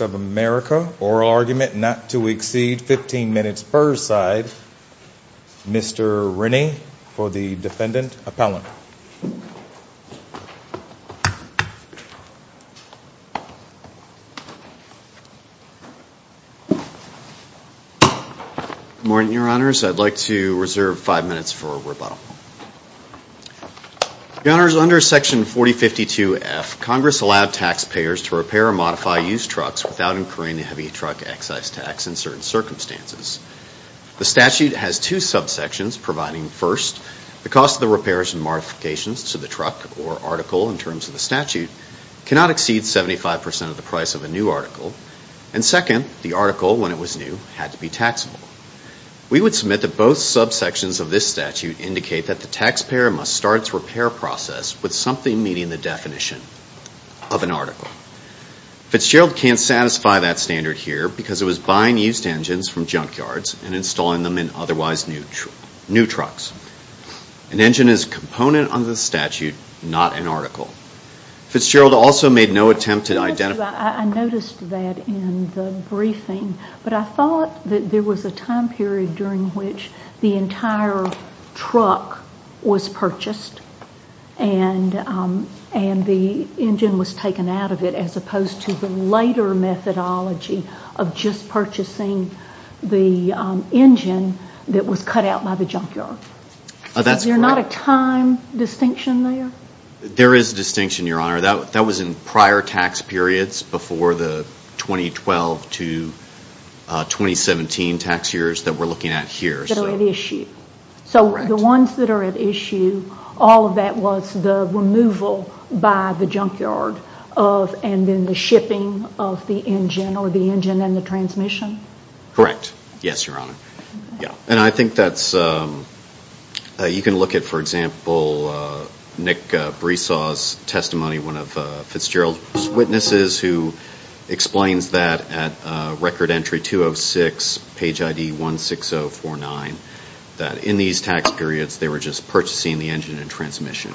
of America. Oral argument not to exceed 15 minutes per side. Mr. Rennie for the defendant appellant. Good morning, your honors. I'd like to reserve five minutes for rebuttal. Your honors, under section 4052F, Congress allowed taxpayers to repair or modify used trucks without incurring the heavy truck excise tax in certain circumstances. The statute has two subsections providing, first, the cost of the repairs and modifications to the truck or article in terms of the statute cannot exceed 75% of the price of a new article. And second, the article, when it was new, had to be taxable. We would submit that both subsections of this statute indicate that the taxpayer must start its repair process with something meeting the definition of an article. Fitzgerald can't satisfy that standard here because it was buying used engines from junkyards and installing them in otherwise new trucks. An engine is a component under the statute, not an article. Fitzgerald also made no attempt to identify. I noticed that in the briefing, but I thought that there was a time period during which the entire truck was purchased and the engine was taken out of it, as opposed to the later methodology of just purchasing the engine that was cut out by the junkyard. Is there not a time distinction there? There is a distinction, your honor. That was in prior tax periods before the 2012 to 2017 tax years that we are looking at here. So the ones that are at issue, all of that was the removal by the junkyard and then the shipping of the engine or the engine and the transmission? Correct. Yes, your honor. And I think you can look at, for example, Nick Bresaw's testimony, one of Fitzgerald's witnesses who explains that at record entry 206, page ID 16049, that in these tax periods they were just purchasing the engine and transmission.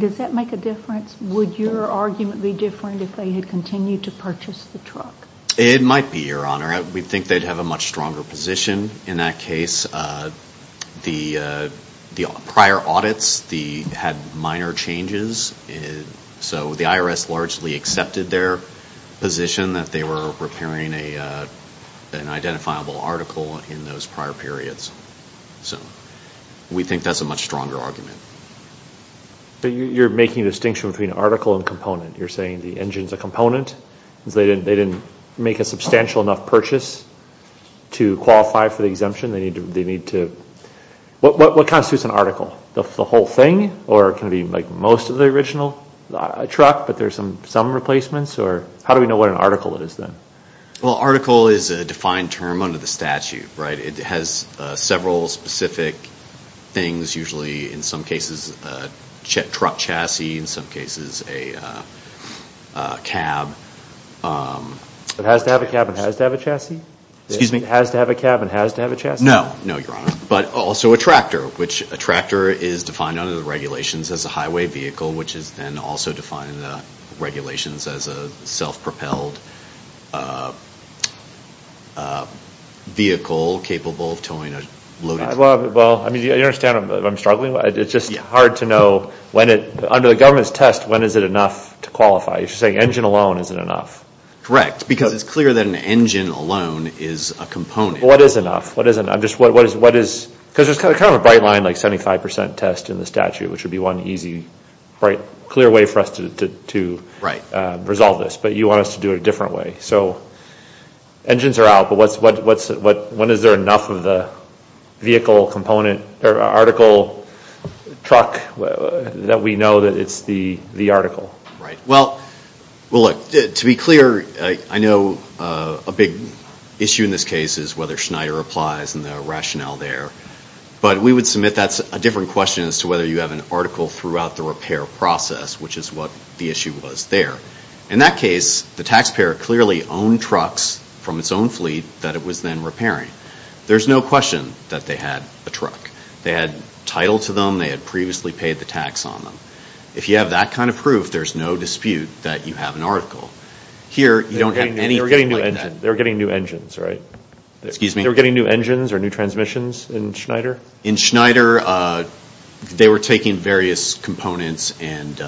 Does that make a difference? Would your argument be different if they had continued to purchase the truck? It might be, your honor. We think they would have a much stronger position in that case. The prior audits had minor changes, so the IRS largely accepted their position that they were repairing an identifiable article in those prior periods. So we think that's a much stronger argument. But you're making a distinction between article and component. You're saying the engine's a component because they didn't make a substantial enough purchase to qualify for the exemption. What constitutes an article? The whole thing? Or can it be most of the original truck, but there's some replacements? How do we know what an article is then? Well, article is a defined term under the statute. It has several specific things, usually in some cases a truck chassis, in some cases a cab. It has to have a cab and has to have a chassis? Excuse me? It has to have a cab and has to have a chassis? No, no, your honor. But also a tractor, which a tractor is defined under the regulations as a highway vehicle, which is then also defined in the regulations as a self-propelled vehicle capable of towing a loaded vehicle. Well, I mean, do you understand if I'm struggling? It's just hard to know when it, under the government's test, when is it enough to qualify? You're saying engine alone isn't enough. Correct, because it's clear that an engine alone is a component. What is enough? What is, because there's kind of a bright line, like 75% test in the statute, which would be one easy, clear way for us to resolve this. But you want us to do it a different way. So engines are out, but when is there enough of the vehicle component, or article, truck that we know that it's the article? Well, look, to be clear, I know a big issue in this case is whether Schneider applies and the rationale there. But we would submit that's a different question as to whether you have an article throughout the repair process, which is what the issue was there. In that case, the taxpayer clearly owned trucks from its own fleet that it was then repairing. There's no question that they had a truck. They had title to them. They had previously paid the tax on them. If you have that kind of proof, there's no dispute that you have an article. Here you don't have anything like that. They were getting new engines, right? Excuse me? They were getting new engines or new transmissions in Schneider? In Schneider, they were taking various components and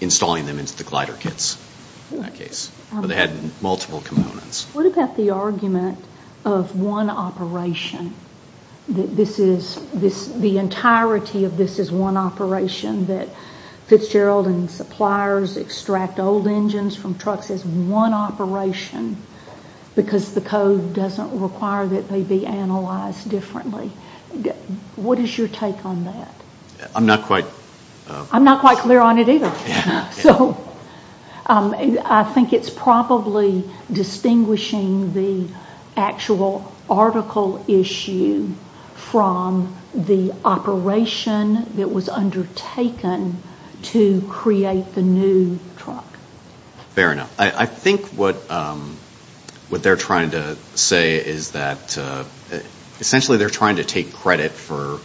installing them into the glider kits, in that case, but they had multiple components. What about the argument of one operation, that this is, the entirety of this is one operation, that Fitzgerald and suppliers extract old engines from trucks as one operation because the code doesn't require that they be analyzed differently? What is your take on that? I'm not quite clear on it either. I think it's probably distinguishing the actual article issue from the operation that was undertaken to create the new truck. Fair enough. I think what they're trying to say is that, essentially, they're trying to take credit for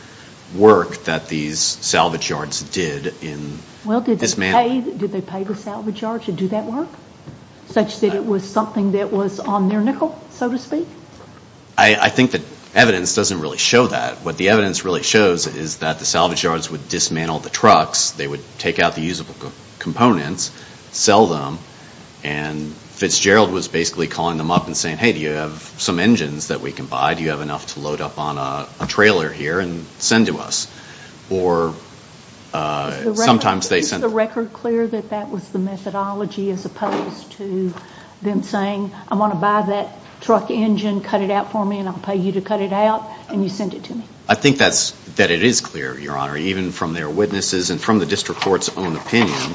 work that these salvage yards did in dismantling. Well, did they pay the salvage yards to do that work? Such that it was something that was on their nickel, so to speak? I think that evidence doesn't really show that. What the evidence really shows is that the salvage yards would dismantle the trucks, they would take out the usable components, sell them, and Fitzgerald was basically calling them up and saying, hey, do you have some engines that we can buy? Do you have enough to load up on a trailer here and send to us? Is the record clear that that was the methodology as opposed to them saying, I want to buy that truck engine, cut it out for me, and I'll pay you to cut it out, and you send it to me? I think that it is clear, Your Honor, even from their witnesses and from the district court's own opinion,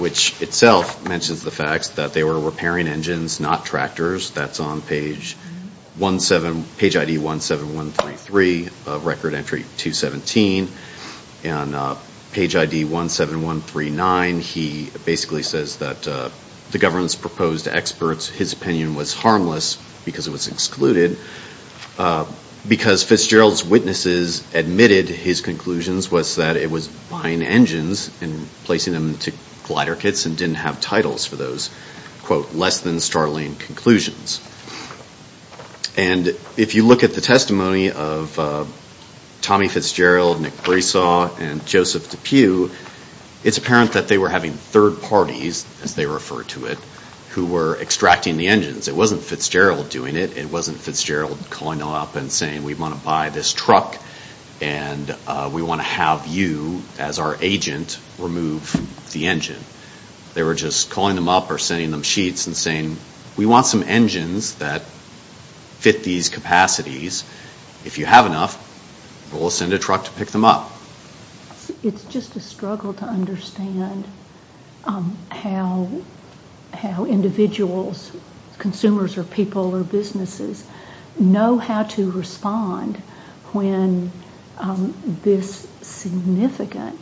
which itself mentions the facts, that they were repairing engines, not tractors. That's on page ID 17133, record entry 217. On page ID 17139, he basically says that the government's proposed experts, his opinion was harmless because it was excluded. Because Fitzgerald's witnesses admitted his conclusions was that it was buying engines and placing them into glider kits and didn't have titles for those, quote, less than startling conclusions. And if you look at the testimony of Tommy Fitzgerald, Nick Bresaw, and Joseph DePue, it's apparent that they were having third parties, as they refer to it, who were extracting the engines. It wasn't Fitzgerald doing it. It wasn't Fitzgerald calling up and saying, we want to buy this truck, and we want to have you, as our agent, remove the engine. They were just calling them up or sending them sheets and saying, we want some engines that fit these capacities. If you have enough, we'll send a truck to pick them up. It's just a struggle to understand how individuals, consumers or people or businesses, know how to respond when this significant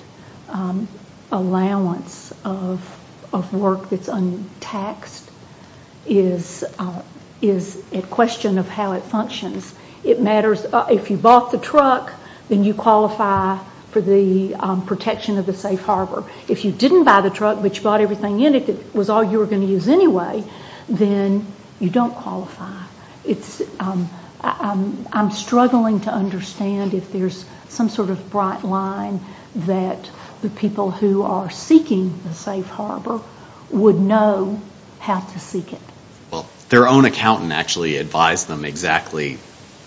allowance of work that's untaxed is a question of how it functions. It matters, if you bought the truck, then you qualify for the protection of the safe harbor. If you didn't buy the truck, but you bought everything in it that was all you were going to use anyway, then you don't qualify. I'm struggling to understand if there's some sort of bright line that the people who are seeking the safe harbor would know how to seek it. Well, their own accountant actually advised them exactly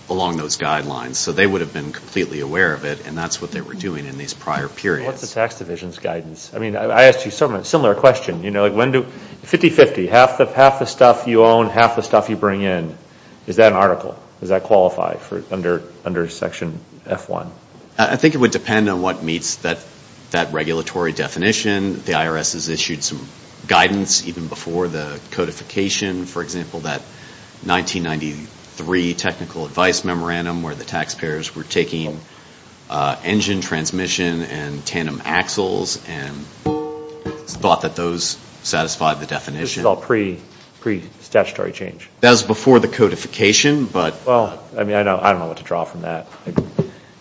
along those guidelines, so they would have been completely aware of it, and that's what they were doing in these prior periods. What's the tax division's guidance? I asked you a similar question. 50-50, half the stuff you own, half the stuff you bring in. Is that an article? Does that qualify under section F1? I think it would depend on what meets that regulatory definition. The IRS has issued some guidance even before the codification. For example, that 1993 Technical Advice Memorandum where the taxpayers were taking engine transmission and tandem axles and thought that those satisfied the definition. This was all pre-statutory change? That was before the codification, but... Well, I mean, I don't know what to draw from that. I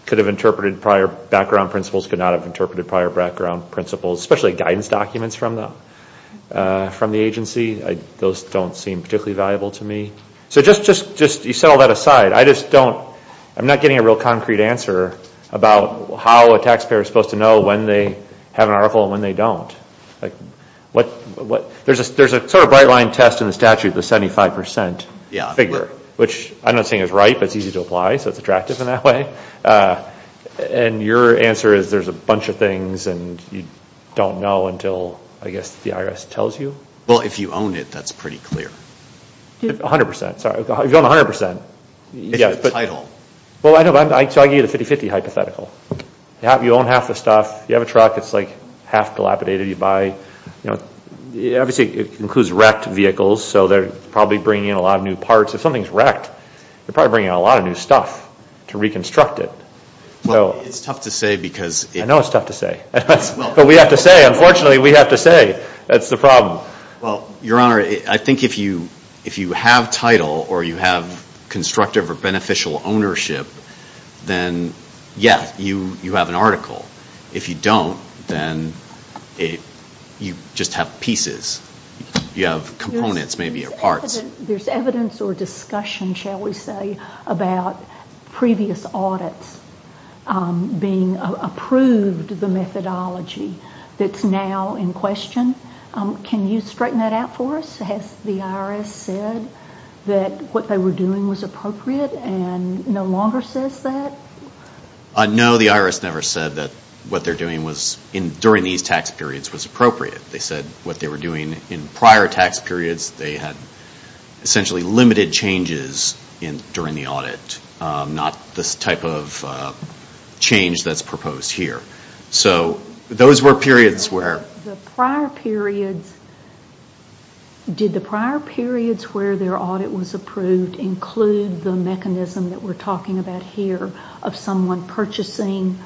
could have interpreted prior background principles, could not have interpreted prior background principles, especially guidance documents from the agency. Those don't seem particularly valuable to me. So just, you know, all that aside, I just don't, I'm not getting a real concrete answer about how a taxpayer is supposed to know when they have an article and when they don't. There's a sort of bright line test in the statute, the 75% figure, which I'm not saying is right, but it's easy to apply, so it's attractive in that way. And your answer is there's a bunch of things and you don't know until, I guess, the IRS tells you? Well, if you own it, that's pretty clear. A hundred percent, sorry. If you own a hundred percent. It's the title. Well, I know, so I give you the 50-50 hypothetical. You own half the stuff, you have a truck that's like half dilapidated, you buy, you know, obviously it includes wrecked vehicles, so they're probably bringing in a lot of new parts. If something's wrecked, they're probably bringing in a lot of new stuff to reconstruct it. Well, it's tough to say because... I know it's tough to say, but we have to say. Unfortunately, we have to say. That's the problem. Well, Your Honor, I think if you have title or you have constructive or beneficial ownership, then yes, you have an article. If you don't, then you just have pieces. You have components, maybe, or parts. There's evidence or discussion, shall we say, about previous audits being approved, the methodology that's now in question. Can you straighten that out for us? Has the IRS said that what they were doing was appropriate and no longer says that? No, the IRS never said that what they're doing during these tax periods was appropriate. They said what they were doing in prior tax periods, they had essentially limited changes during the audit, not this type of change that's proposed here. So those were periods where... The prior periods, did the prior periods where their audit was approved include the mechanism that we're talking about here of someone purchasing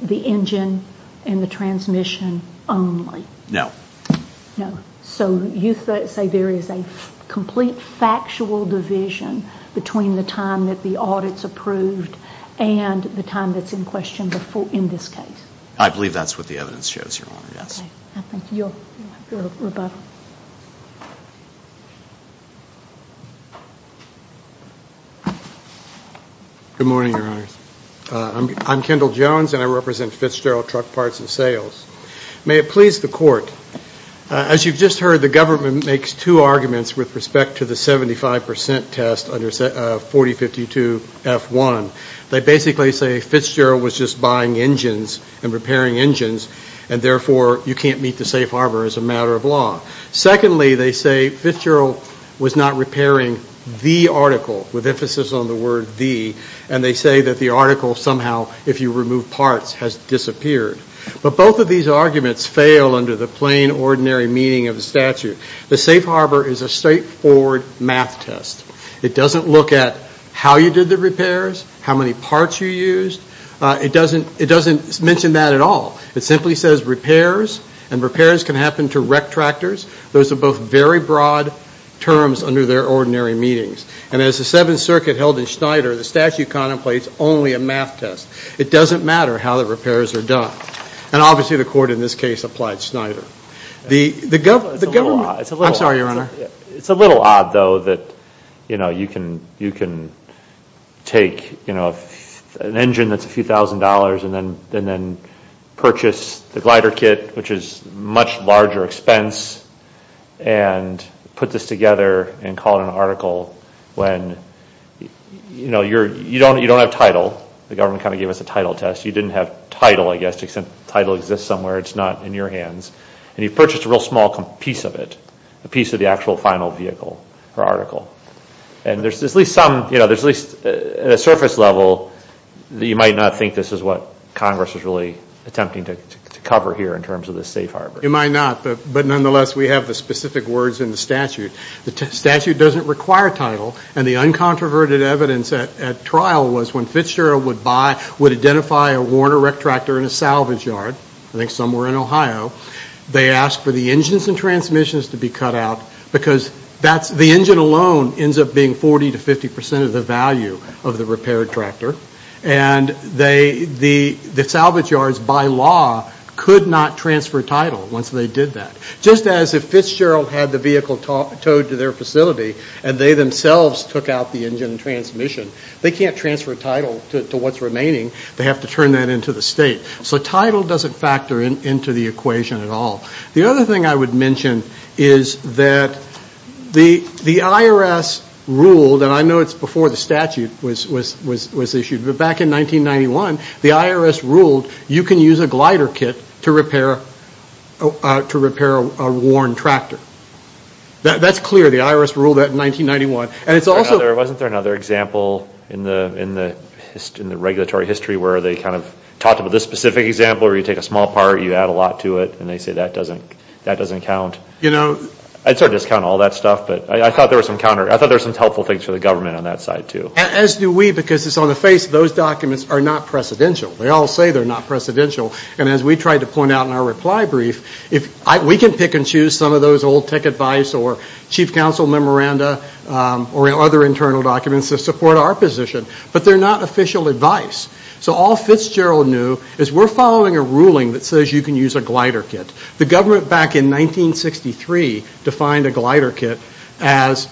the engine and the transmission only? No. No. So you say there is a complete factual division between the time that the audit's approved and the time that's in question in this case? I believe that's what the evidence shows, Your Honor, yes. Okay. I think you'll... Good morning, Your Honors. I'm Kendall Jones, and I represent Fitzgerald Truck Parts and May it please the Court, as you've just heard, the government makes two arguments with respect to the 75% test under 4052F1. They basically say Fitzgerald was just buying engines and repairing engines, and therefore you can't meet the safe harbor as a matter of law. Secondly, they say Fitzgerald was not repairing the article, with emphasis on the word the, and they say that the article somehow, if you remove parts, has disappeared. But both of these arguments fail under the plain, ordinary meaning of the statute. The safe harbor is a straightforward math test. It doesn't look at how you did the repairs, how many parts you used. It doesn't mention that at all. It simply says repairs, and repairs can happen to wreck tractors. Those are both very broad terms under their ordinary meanings. And as the Seventh Circuit held in Schneider, the statute contemplates only a math test. It doesn't matter how the repairs are done. And obviously the Court in this case applied Schneider. The government... I'm sorry, Your Honor. It's a little odd, though, that, you know, you can take, you know, an engine that's a few thousand dollars and then purchase the glider kit, which is a much larger expense, and put this together and call it an article when, you know, you don't have title. The government kind of gave us a title test. You didn't have title, I guess, except title exists somewhere. It's not in your hands. And you purchased a real small piece of it, a piece of the actual final vehicle or article. And there's at least some, you know, there's at least a surface level that you might not think this is what Congress is really attempting to cover here in terms of the safe harbor. It might not, but nonetheless, we have the specific words in the statute. The statute doesn't require title. And the uncontroverted evidence at trial was when Fitzgerald would buy, would identify a Warner wreck tractor in a salvage yard, I think somewhere in Ohio, they asked for the engines and transmissions to be cut out because that's, the engine alone ends up being 40 to 50 percent of the value of the repaired tractor. And they, the salvage yards by law could not transfer title once they did that. Just as if Fitzgerald had the vehicle towed to their facility and they themselves took out the engine and transmission, they can't transfer title to what's remaining. They have to turn that into the state. So title doesn't factor into the equation at all. The other thing I would mention is that the IRS ruled, and I know it's before the statute was issued, but back in 1991, the IRS ruled you can use a glider kit to repair a worn tractor. That's clear. The IRS ruled that in 1991. And it's also... Wasn't there another example in the regulatory history where they kind of talked about this specific example where you take a small part, you add a lot to it, and they say that doesn't count? I'd sort of discount all that stuff, but I thought there were some helpful things for the government on that side too. As do we, because it's on the face of those documents are not precedential. They all say they're not precedential, and as we tried to point out in our reply brief, we can pick and choose some of those old tech advice or chief counsel memoranda or other internal documents that support our position, but they're not official advice. So all Fitzgerald knew is we're following a ruling that says you can use a glider kit. The government back in 1963 defined a glider kit as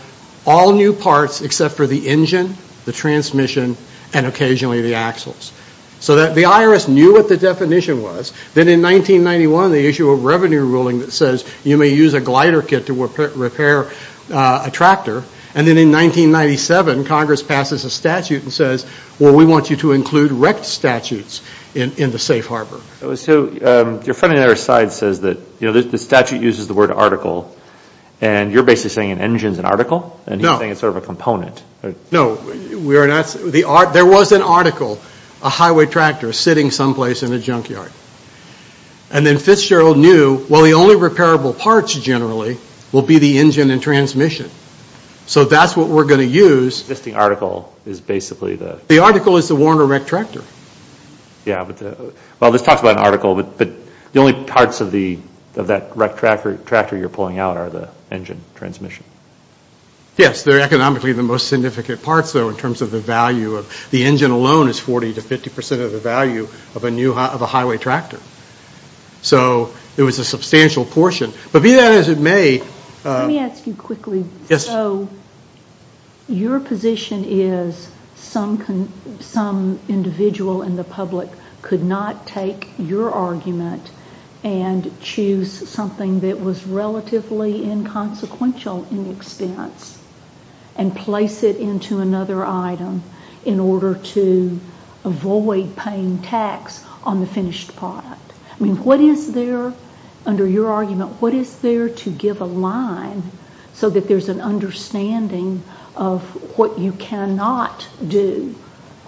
all new parts except for the engine, the transmission, and occasionally the axles. So the IRS knew what the definition was. Then in 1991, they issued a revenue ruling that says you may use a glider kit to repair a tractor. And then in 1997, Congress passes a statute and says, well, we want you to include wrecked statutes in the safe harbor. So your friend on the other side says that the statute uses the word article, and you're basically saying an engine is an article, and he's saying it's sort of a component. No, there was an article, a highway tractor sitting someplace in a junkyard. And then Fitzgerald knew, well, the only repairable parts generally will be the engine and transmission. So that's what we're going to use. The article is basically the? The article is the worn or wrecked tractor. Yeah, well, this talks about an article, but the only parts of that wrecked tractor you're pulling out are the engine and transmission. Yes, they're economically the most significant parts, though, in terms of the value. The engine alone is 40 to 50 percent of the value of a highway tractor. So it was a substantial portion. But be that as it may. Let me ask you quickly. Yes. So your position is some individual in the public could not take your argument and choose something that was relatively inconsequential in expense and place it into another item in order to avoid paying tax on the finished product. I mean, what is there under your argument? What is there to give a line so that there's an understanding of what you cannot do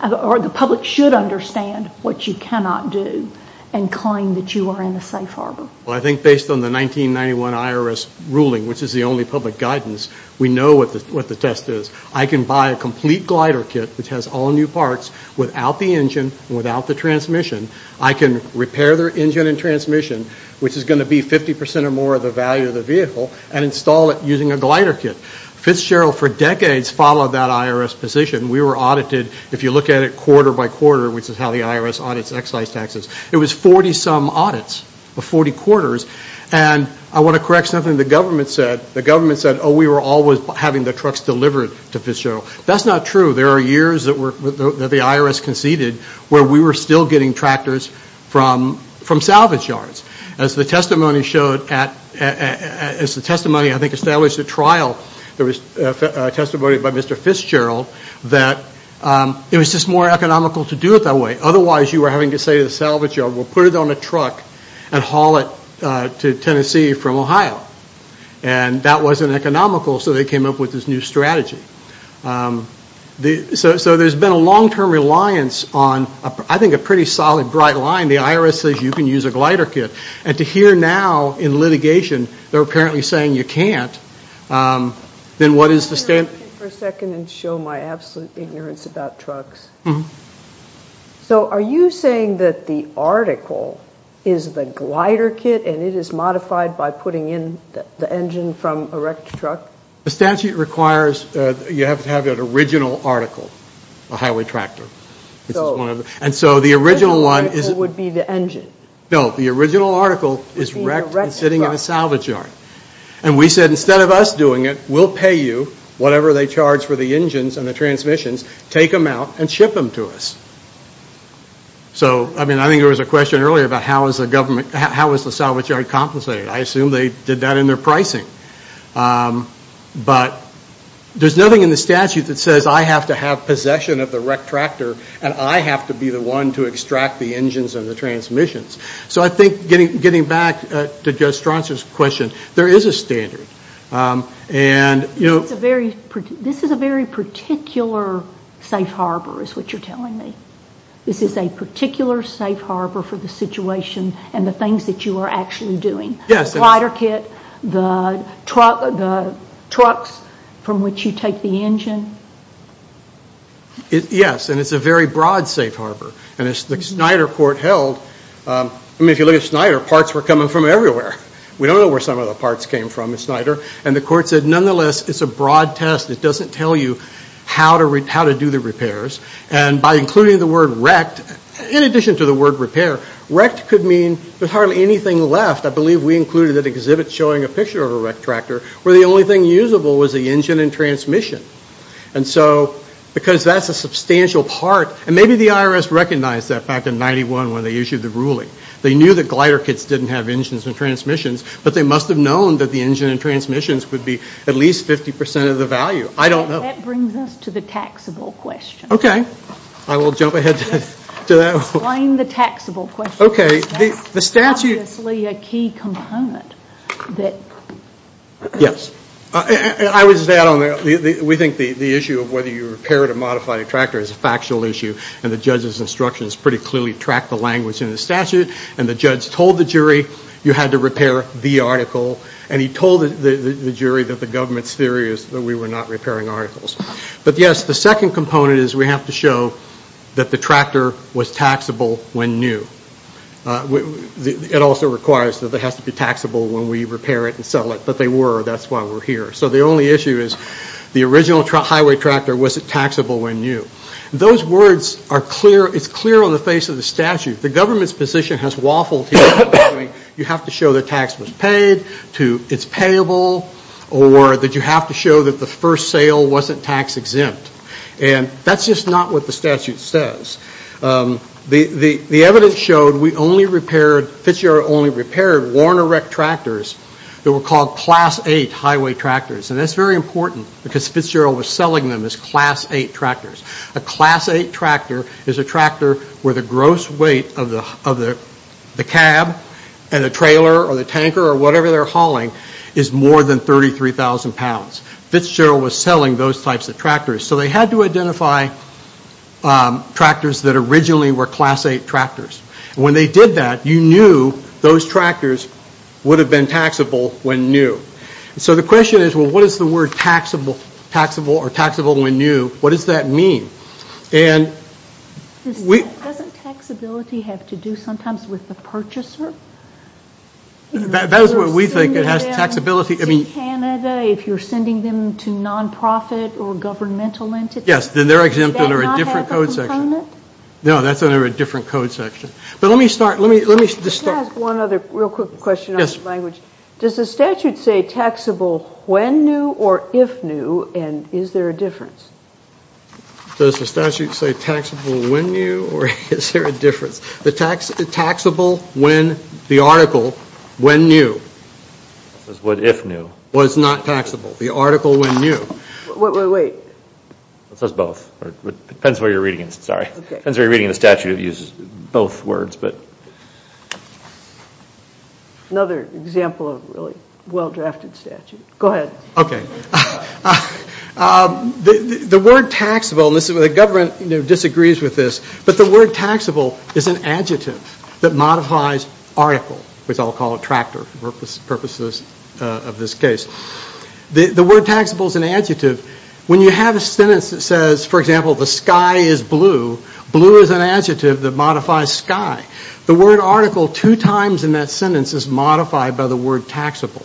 or the public should understand what you cannot do and claim that you are in a safe harbor? Well, I think based on the 1991 IRS ruling, which is the only public guidance, we know what the test is. I can buy a complete glider kit which has all new parts without the engine, without the transmission. I can repair the engine and transmission, which is going to be 50 percent or more of the value of the vehicle, and install it using a glider kit. Fitzgerald for decades followed that IRS position. We were audited, if you look at it quarter by quarter, which is how the IRS audits excise taxes. It was 40-some audits of 40 quarters. And I want to correct something the government said. The government said, oh, we were always having the trucks delivered to Fitzgerald. That's not true. There are years that the IRS conceded where we were still getting tractors from salvage yards. As the testimony, I think, established at trial, there was testimony by Mr. Fitzgerald that it was just more economical to do it that way. Otherwise, you were having to say to the salvage yard, well, put it on a truck and haul it to Tennessee from Ohio. And that wasn't economical, so they came up with this new strategy. So there's been a long-term reliance on, I think, a pretty solid, bright line. The IRS says you can use a glider kit. And to hear now in litigation they're apparently saying you can't, then what is the standard? Let me stop you for a second and show my absolute ignorance about trucks. So are you saying that the article is the glider kit and it is modified by putting in the engine from a wrecked truck? The statute requires you have to have an original article, a highway tractor. So the original article would be the engine. No, the original article is wrecked and sitting in a salvage yard. And we said instead of us doing it, we'll pay you whatever they charge for the engines and the transmissions, take them out and ship them to us. So, I mean, I think there was a question earlier about how is the government, how is the salvage yard compensated? I assume they did that in their pricing. But there's nothing in the statute that says I have to have possession of the wrecked tractor and I have to be the one to extract the engines and the transmissions. So I think getting back to Judge Strasser's question, there is a standard. This is a very particular safe harbor is what you're telling me. This is a particular safe harbor for the situation and the things that you are actually doing. The glider kit, the trucks from which you take the engine. Yes, and it's a very broad safe harbor. And as the Snyder court held, I mean, if you look at Snyder, parts were coming from everywhere. We don't know where some of the parts came from at Snyder. And the court said, nonetheless, it's a broad test. It doesn't tell you how to do the repairs. And by including the word wrecked, in addition to the word repair, wrecked could mean there's hardly anything left. I believe we included that exhibit showing a picture of a wrecked tractor where the only thing usable was the engine and transmission. And so because that's a substantial part, and maybe the IRS recognized that fact in 91 when they issued the ruling. They knew that glider kits didn't have engines and transmissions, but they must have known that the engine and transmissions would be at least 50% of the value. I don't know. That brings us to the taxable question. Okay. I will jump ahead to that. Explain the taxable question. Okay. That's obviously a key component. Yes. I would just add on there, we think the issue of whether you repair it or modify the tractor is a factual issue. And the judge's instructions pretty clearly track the language in the statute. And the judge told the jury you had to repair the article. And he told the jury that the government's theory is that we were not repairing articles. But, yes, the second component is we have to show that the tractor was taxable when new. It also requires that it has to be taxable when we repair it and sell it. But they were. That's why we're here. So the only issue is the original highway tractor wasn't taxable when new. Those words are clear. It's clear on the face of the statute. The government's position has waffled here. You have to show that tax was paid, it's payable, or that you have to show that the first sale wasn't tax-exempt. And that's just not what the statute says. The evidence showed we only repaired, Fitzgerald only repaired Warner Wreck tractors that were called Class 8 highway tractors. And that's very important because Fitzgerald was selling them as Class 8 tractors. A Class 8 tractor is a tractor where the gross weight of the cab and the trailer or the tanker or whatever they're hauling is more than 33,000 pounds. Fitzgerald was selling those types of tractors. So they had to identify tractors that originally were Class 8 tractors. And when they did that, you knew those tractors would have been taxable when new. So the question is, well, what is the word taxable or taxable when new? What does that mean? And we- Doesn't taxability have to do sometimes with the purchaser? That is what we think. If you're sending them to Canada, if you're sending them to non-profit or governmental entities- Yes, then they're exempt under a different code section. No, that's under a different code section. But let me start. Let me start- Just ask one other real quick question on the language. Does the statute say taxable when new or if new? And is there a difference? Does the statute say taxable when new or is there a difference? The taxable when the article when new- If new. Was not taxable. The article when new. Wait, wait, wait. It says both. It depends where you're reading it. Sorry. It depends where you're reading the statute. It uses both words. Another example of a really well-drafted statute. Go ahead. The word taxable, and the government disagrees with this, but the word taxable is an adjective that modifies article, which I'll call a tractor for purposes of this case. The word taxable is an adjective. When you have a sentence that says, for example, the sky is blue, blue is an adjective that modifies sky. The word article two times in that sentence is modified by the word taxable.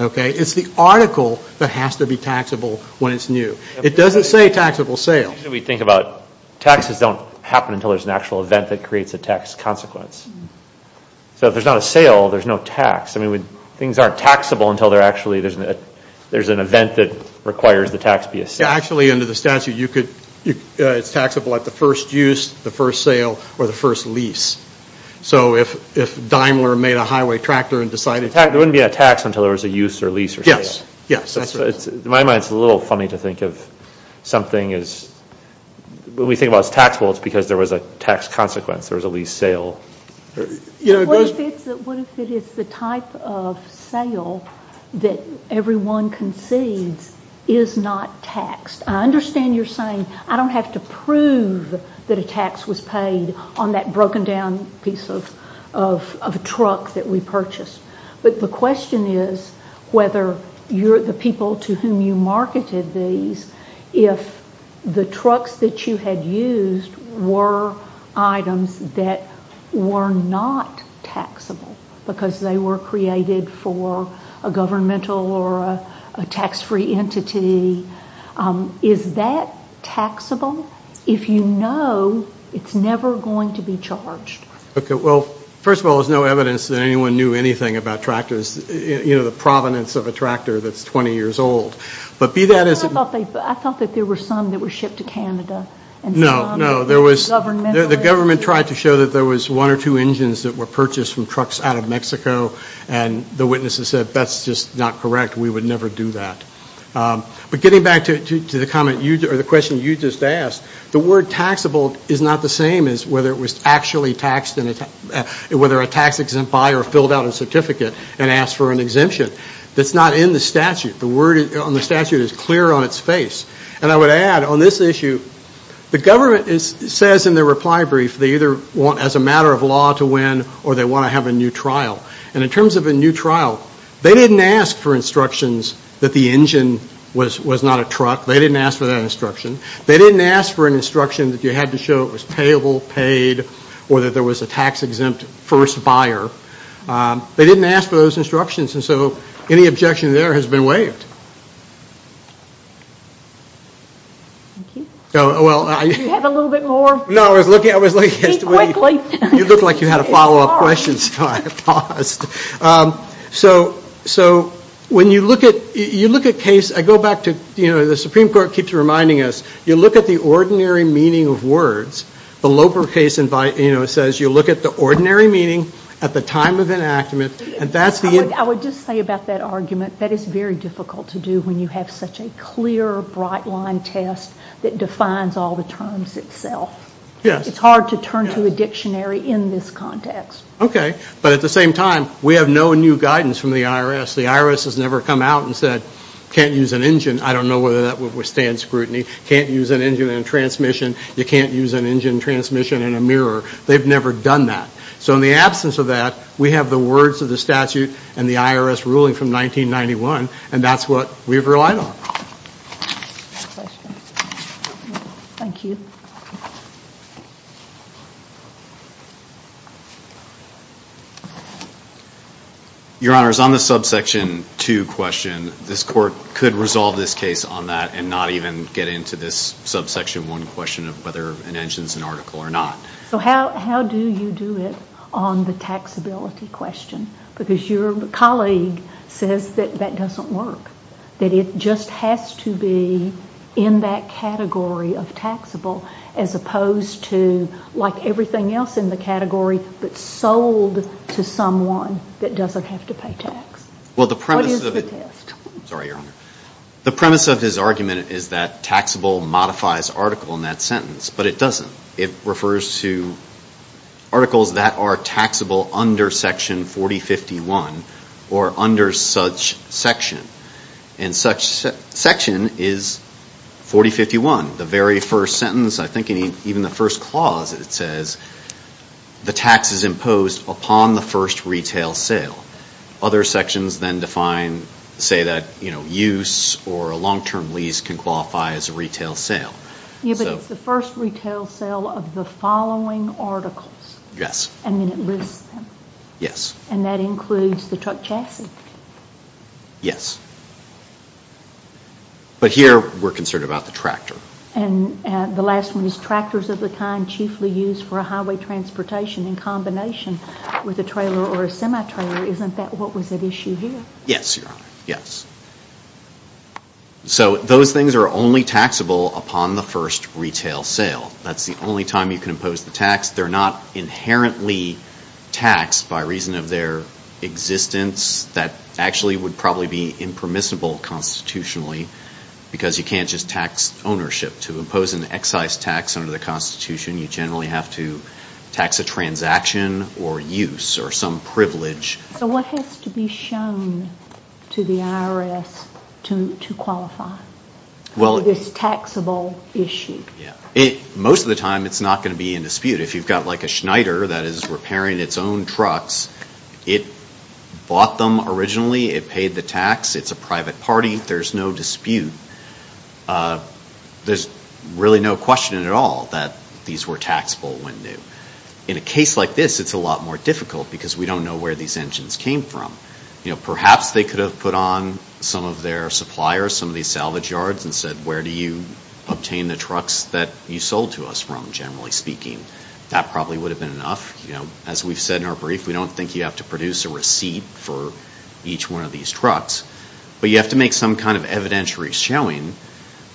Okay? It's the article that has to be taxable when it's new. It doesn't say taxable sales. We think about taxes don't happen until there's an actual event that creates a tax consequence. So if there's not a sale, there's no tax. I mean, things aren't taxable until there actually is an event that requires the tax be a sale. Actually, under the statute, it's taxable at the first use, the first sale, or the first lease. So if Daimler made a highway tractor and decided to- It wouldn't be a tax until there was a use or lease or sale. In my mind, it's a little funny to think of something as- when we think about it as taxable, it's because there was a tax consequence. There was a lease sale. What if it is the type of sale that everyone concedes is not taxed? I understand you're saying I don't have to prove that a tax was paid on that broken down piece of truck that we purchased. But the question is whether the people to whom you marketed these, if the trucks that you had used were items that were not taxable because they were created for a governmental or a tax-free entity, is that taxable if you know it's never going to be charged? Okay, well, first of all, there's no evidence that anyone knew anything about tractors, you know, the provenance of a tractor that's 20 years old. But be that as it- I thought that there were some that were shipped to Canada. No, no, there was- Governmentally. The government tried to show that there was one or two engines that were purchased from trucks out of Mexico, and the witnesses said, that's just not correct, we would never do that. But getting back to the question you just asked, the word taxable is not the same as whether it was actually taxed, whether a tax-exempt buyer filled out a certificate and asked for an exemption. That's not in the statute. The word on the statute is clear on its face. And I would add, on this issue, the government says in their reply brief they either want, as a matter of law, to win or they want to have a new trial. And in terms of a new trial, they didn't ask for instructions that the engine was not a truck. They didn't ask for that instruction. They didn't ask for an instruction that you had to show it was payable, paid, or that there was a tax-exempt first buyer. They didn't ask for those instructions. And so any objection there has been waived. Thank you. Do you have a little bit more? No, I was looking- Speak quickly. You looked like you had a follow-up question, so I paused. So when you look at case, I go back to, you know, the Supreme Court keeps reminding us, you look at the ordinary meaning of words. The Loper case says you look at the ordinary meaning at the time of enactment, and that's the- I would just say about that argument that it's very difficult to do when you have such a clear, bright-line test that defines all the terms itself. Yes. It's hard to turn to a dictionary in this context. Yes. Okay. But at the same time, we have no new guidance from the IRS. The IRS has never come out and said, can't use an engine. I don't know whether that would withstand scrutiny. Can't use an engine in a transmission. You can't use an engine transmission in a mirror. They've never done that. So in the absence of that, we have the words of the statute and the IRS ruling from 1991, and that's what we've relied on. Next question. Thank you. Your Honors, on the subsection two question, this Court could resolve this case on that and not even get into this subsection one question of whether an engine is an article or not. So how do you do it on the taxability question? Because your colleague says that that doesn't work, that it just has to be in that category of taxable as opposed to, like everything else in the category, but sold to someone that doesn't have to pay tax. What is the test? Sorry, Your Honor. The premise of his argument is that taxable modifies article in that sentence, but it doesn't. It refers to articles that are taxable under Section 4051 or under such section. And such section is 4051, the very first sentence. I think even the first clause, it says, the tax is imposed upon the first retail sale. Other sections then define, say that, you know, use or a long-term lease can qualify as a retail sale. Yeah, but it's the first retail sale of the following articles. Yes. And then it lists them. Yes. And that includes the truck chassis. Yes. But here we're concerned about the tractor. And the last one is tractors of the kind chiefly used for a highway transportation in combination with a trailer or a semi-trailer. Isn't that what was at issue here? Yes, Your Honor. Yes. So those things are only taxable upon the first retail sale. That's the only time you can impose the tax. They're not inherently taxed by reason of their existence. That actually would probably be impermissible constitutionally because you can't just tax ownership. To impose an excise tax under the Constitution, you generally have to tax a transaction or use or some privilege. So what has to be shown to the IRS to qualify for this taxable issue? Most of the time it's not going to be in dispute. If you've got, like, a Schneider that is repairing its own trucks, it bought them originally, it paid the tax, it's a private party, there's no dispute. There's really no question at all that these were taxable when new. In a case like this, it's a lot more difficult because we don't know where these engines came from. Perhaps they could have put on some of their suppliers, some of these salvage yards and said, where do you obtain the trucks that you sold to us from, generally speaking. That probably would have been enough. As we've said in our brief, we don't think you have to produce a receipt for each one of these trucks. But you have to make some kind of evidentiary showing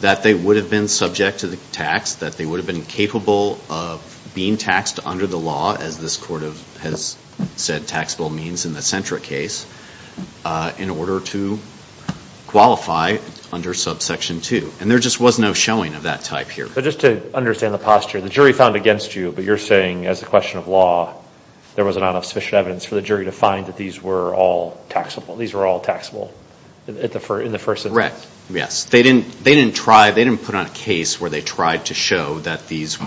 that they would have been subject to the tax, that they would have been capable of being taxed under the law, as this Court has said taxable means in the Sentra case, in order to qualify under Subsection 2. And there just was no showing of that type here. But just to understand the posture, the jury found against you, but you're saying as a question of law, there wasn't enough sufficient evidence for the jury to find that these were all taxable. These were all taxable in the first instance. Correct, yes. They didn't put on a case where they tried to show that these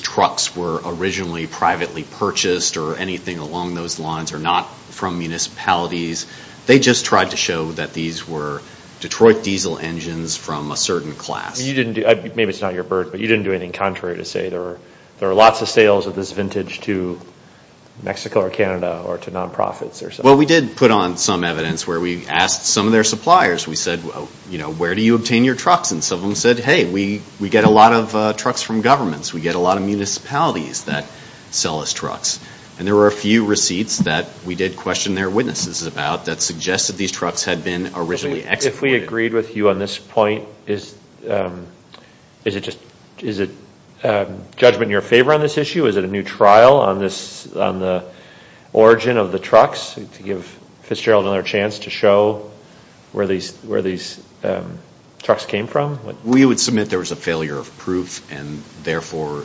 trucks were originally privately purchased or anything along those lines or not from municipalities. They just tried to show that these were Detroit diesel engines from a certain class. Maybe it's not your bird, but you didn't do anything contrary to say there are lots of sales of this vintage to Mexico or Canada or to non-profits. Well, we did put on some evidence where we asked some of their suppliers. We said, where do you obtain your trucks? And some of them said, hey, we get a lot of trucks from governments. We get a lot of municipalities that sell us trucks. And there were a few receipts that we did question their witnesses about that suggested these trucks had been originally exported. If we agreed with you on this point, is it judgment in your favor on this issue? Is it a new trial on the origin of the trucks to give Fitzgerald another chance to show where these trucks came from? We would submit there was a failure of proof and therefore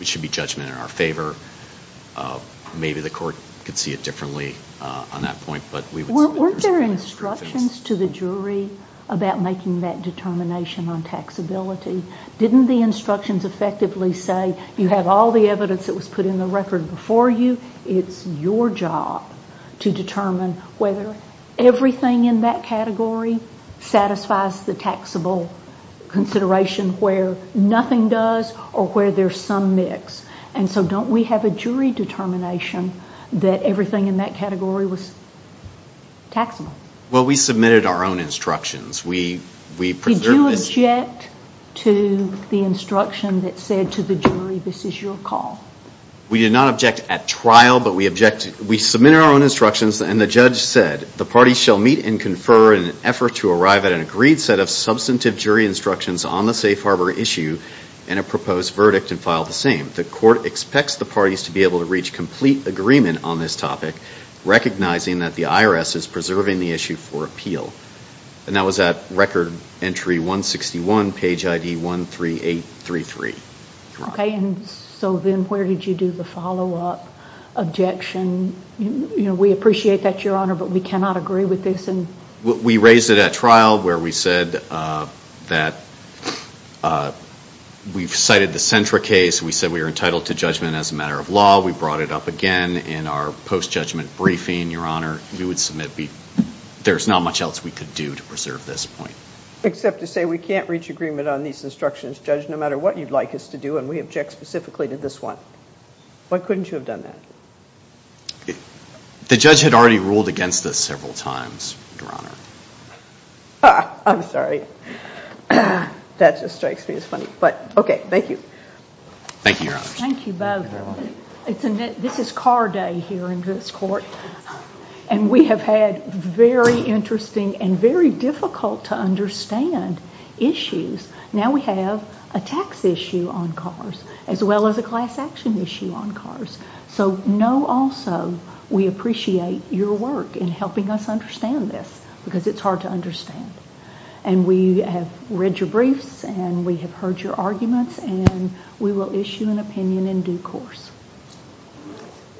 it should be judgment in our favor. Maybe the court could see it differently on that point. Weren't there instructions to the jury about making that determination on taxability? Didn't the instructions effectively say, you have all the evidence that was put in the record before you. It's your job to determine whether everything in that category satisfies the taxable consideration where nothing does or where there's some mix. And so don't we have a jury determination that everything in that category was taxable? Well, we submitted our own instructions. Did you object to the instruction that said to the jury, this is your call? We did not object at trial, but we submitted our own instructions. And the judge said, the parties shall meet and confer in an effort to arrive at an agreed set of substantive jury instructions on the safe harbor issue and a proposed verdict and file the same. The court expects the parties to be able to reach complete agreement on this topic, recognizing that the IRS is preserving the issue for appeal. And that was at record entry 161, page ID 13833. Okay. And so then where did you do the follow-up objection? We appreciate that, Your Honor, but we cannot agree with this. We raised it at trial where we said that we've cited the Sentra case. We said we were entitled to judgment as a matter of law. We brought it up again in our post-judgment briefing, Your Honor. We would submit there's not much else we could do to preserve this point. Except to say we can't reach agreement on these instructions, Judge, no matter what you'd like us to do, and we object specifically to this one. Why couldn't you have done that? The judge had already ruled against us several times, Your Honor. I'm sorry. That just strikes me as funny. But, okay, thank you. Thank you, Your Honor. Thank you both. This is car day here in this court, and we have had very interesting and very difficult to understand issues. Now we have a tax issue on cars as well as a class action issue on cars. So know also we appreciate your work in helping us understand this because it's hard to understand. And we have read your briefs, and we have heard your arguments, and we will issue an opinion in due course.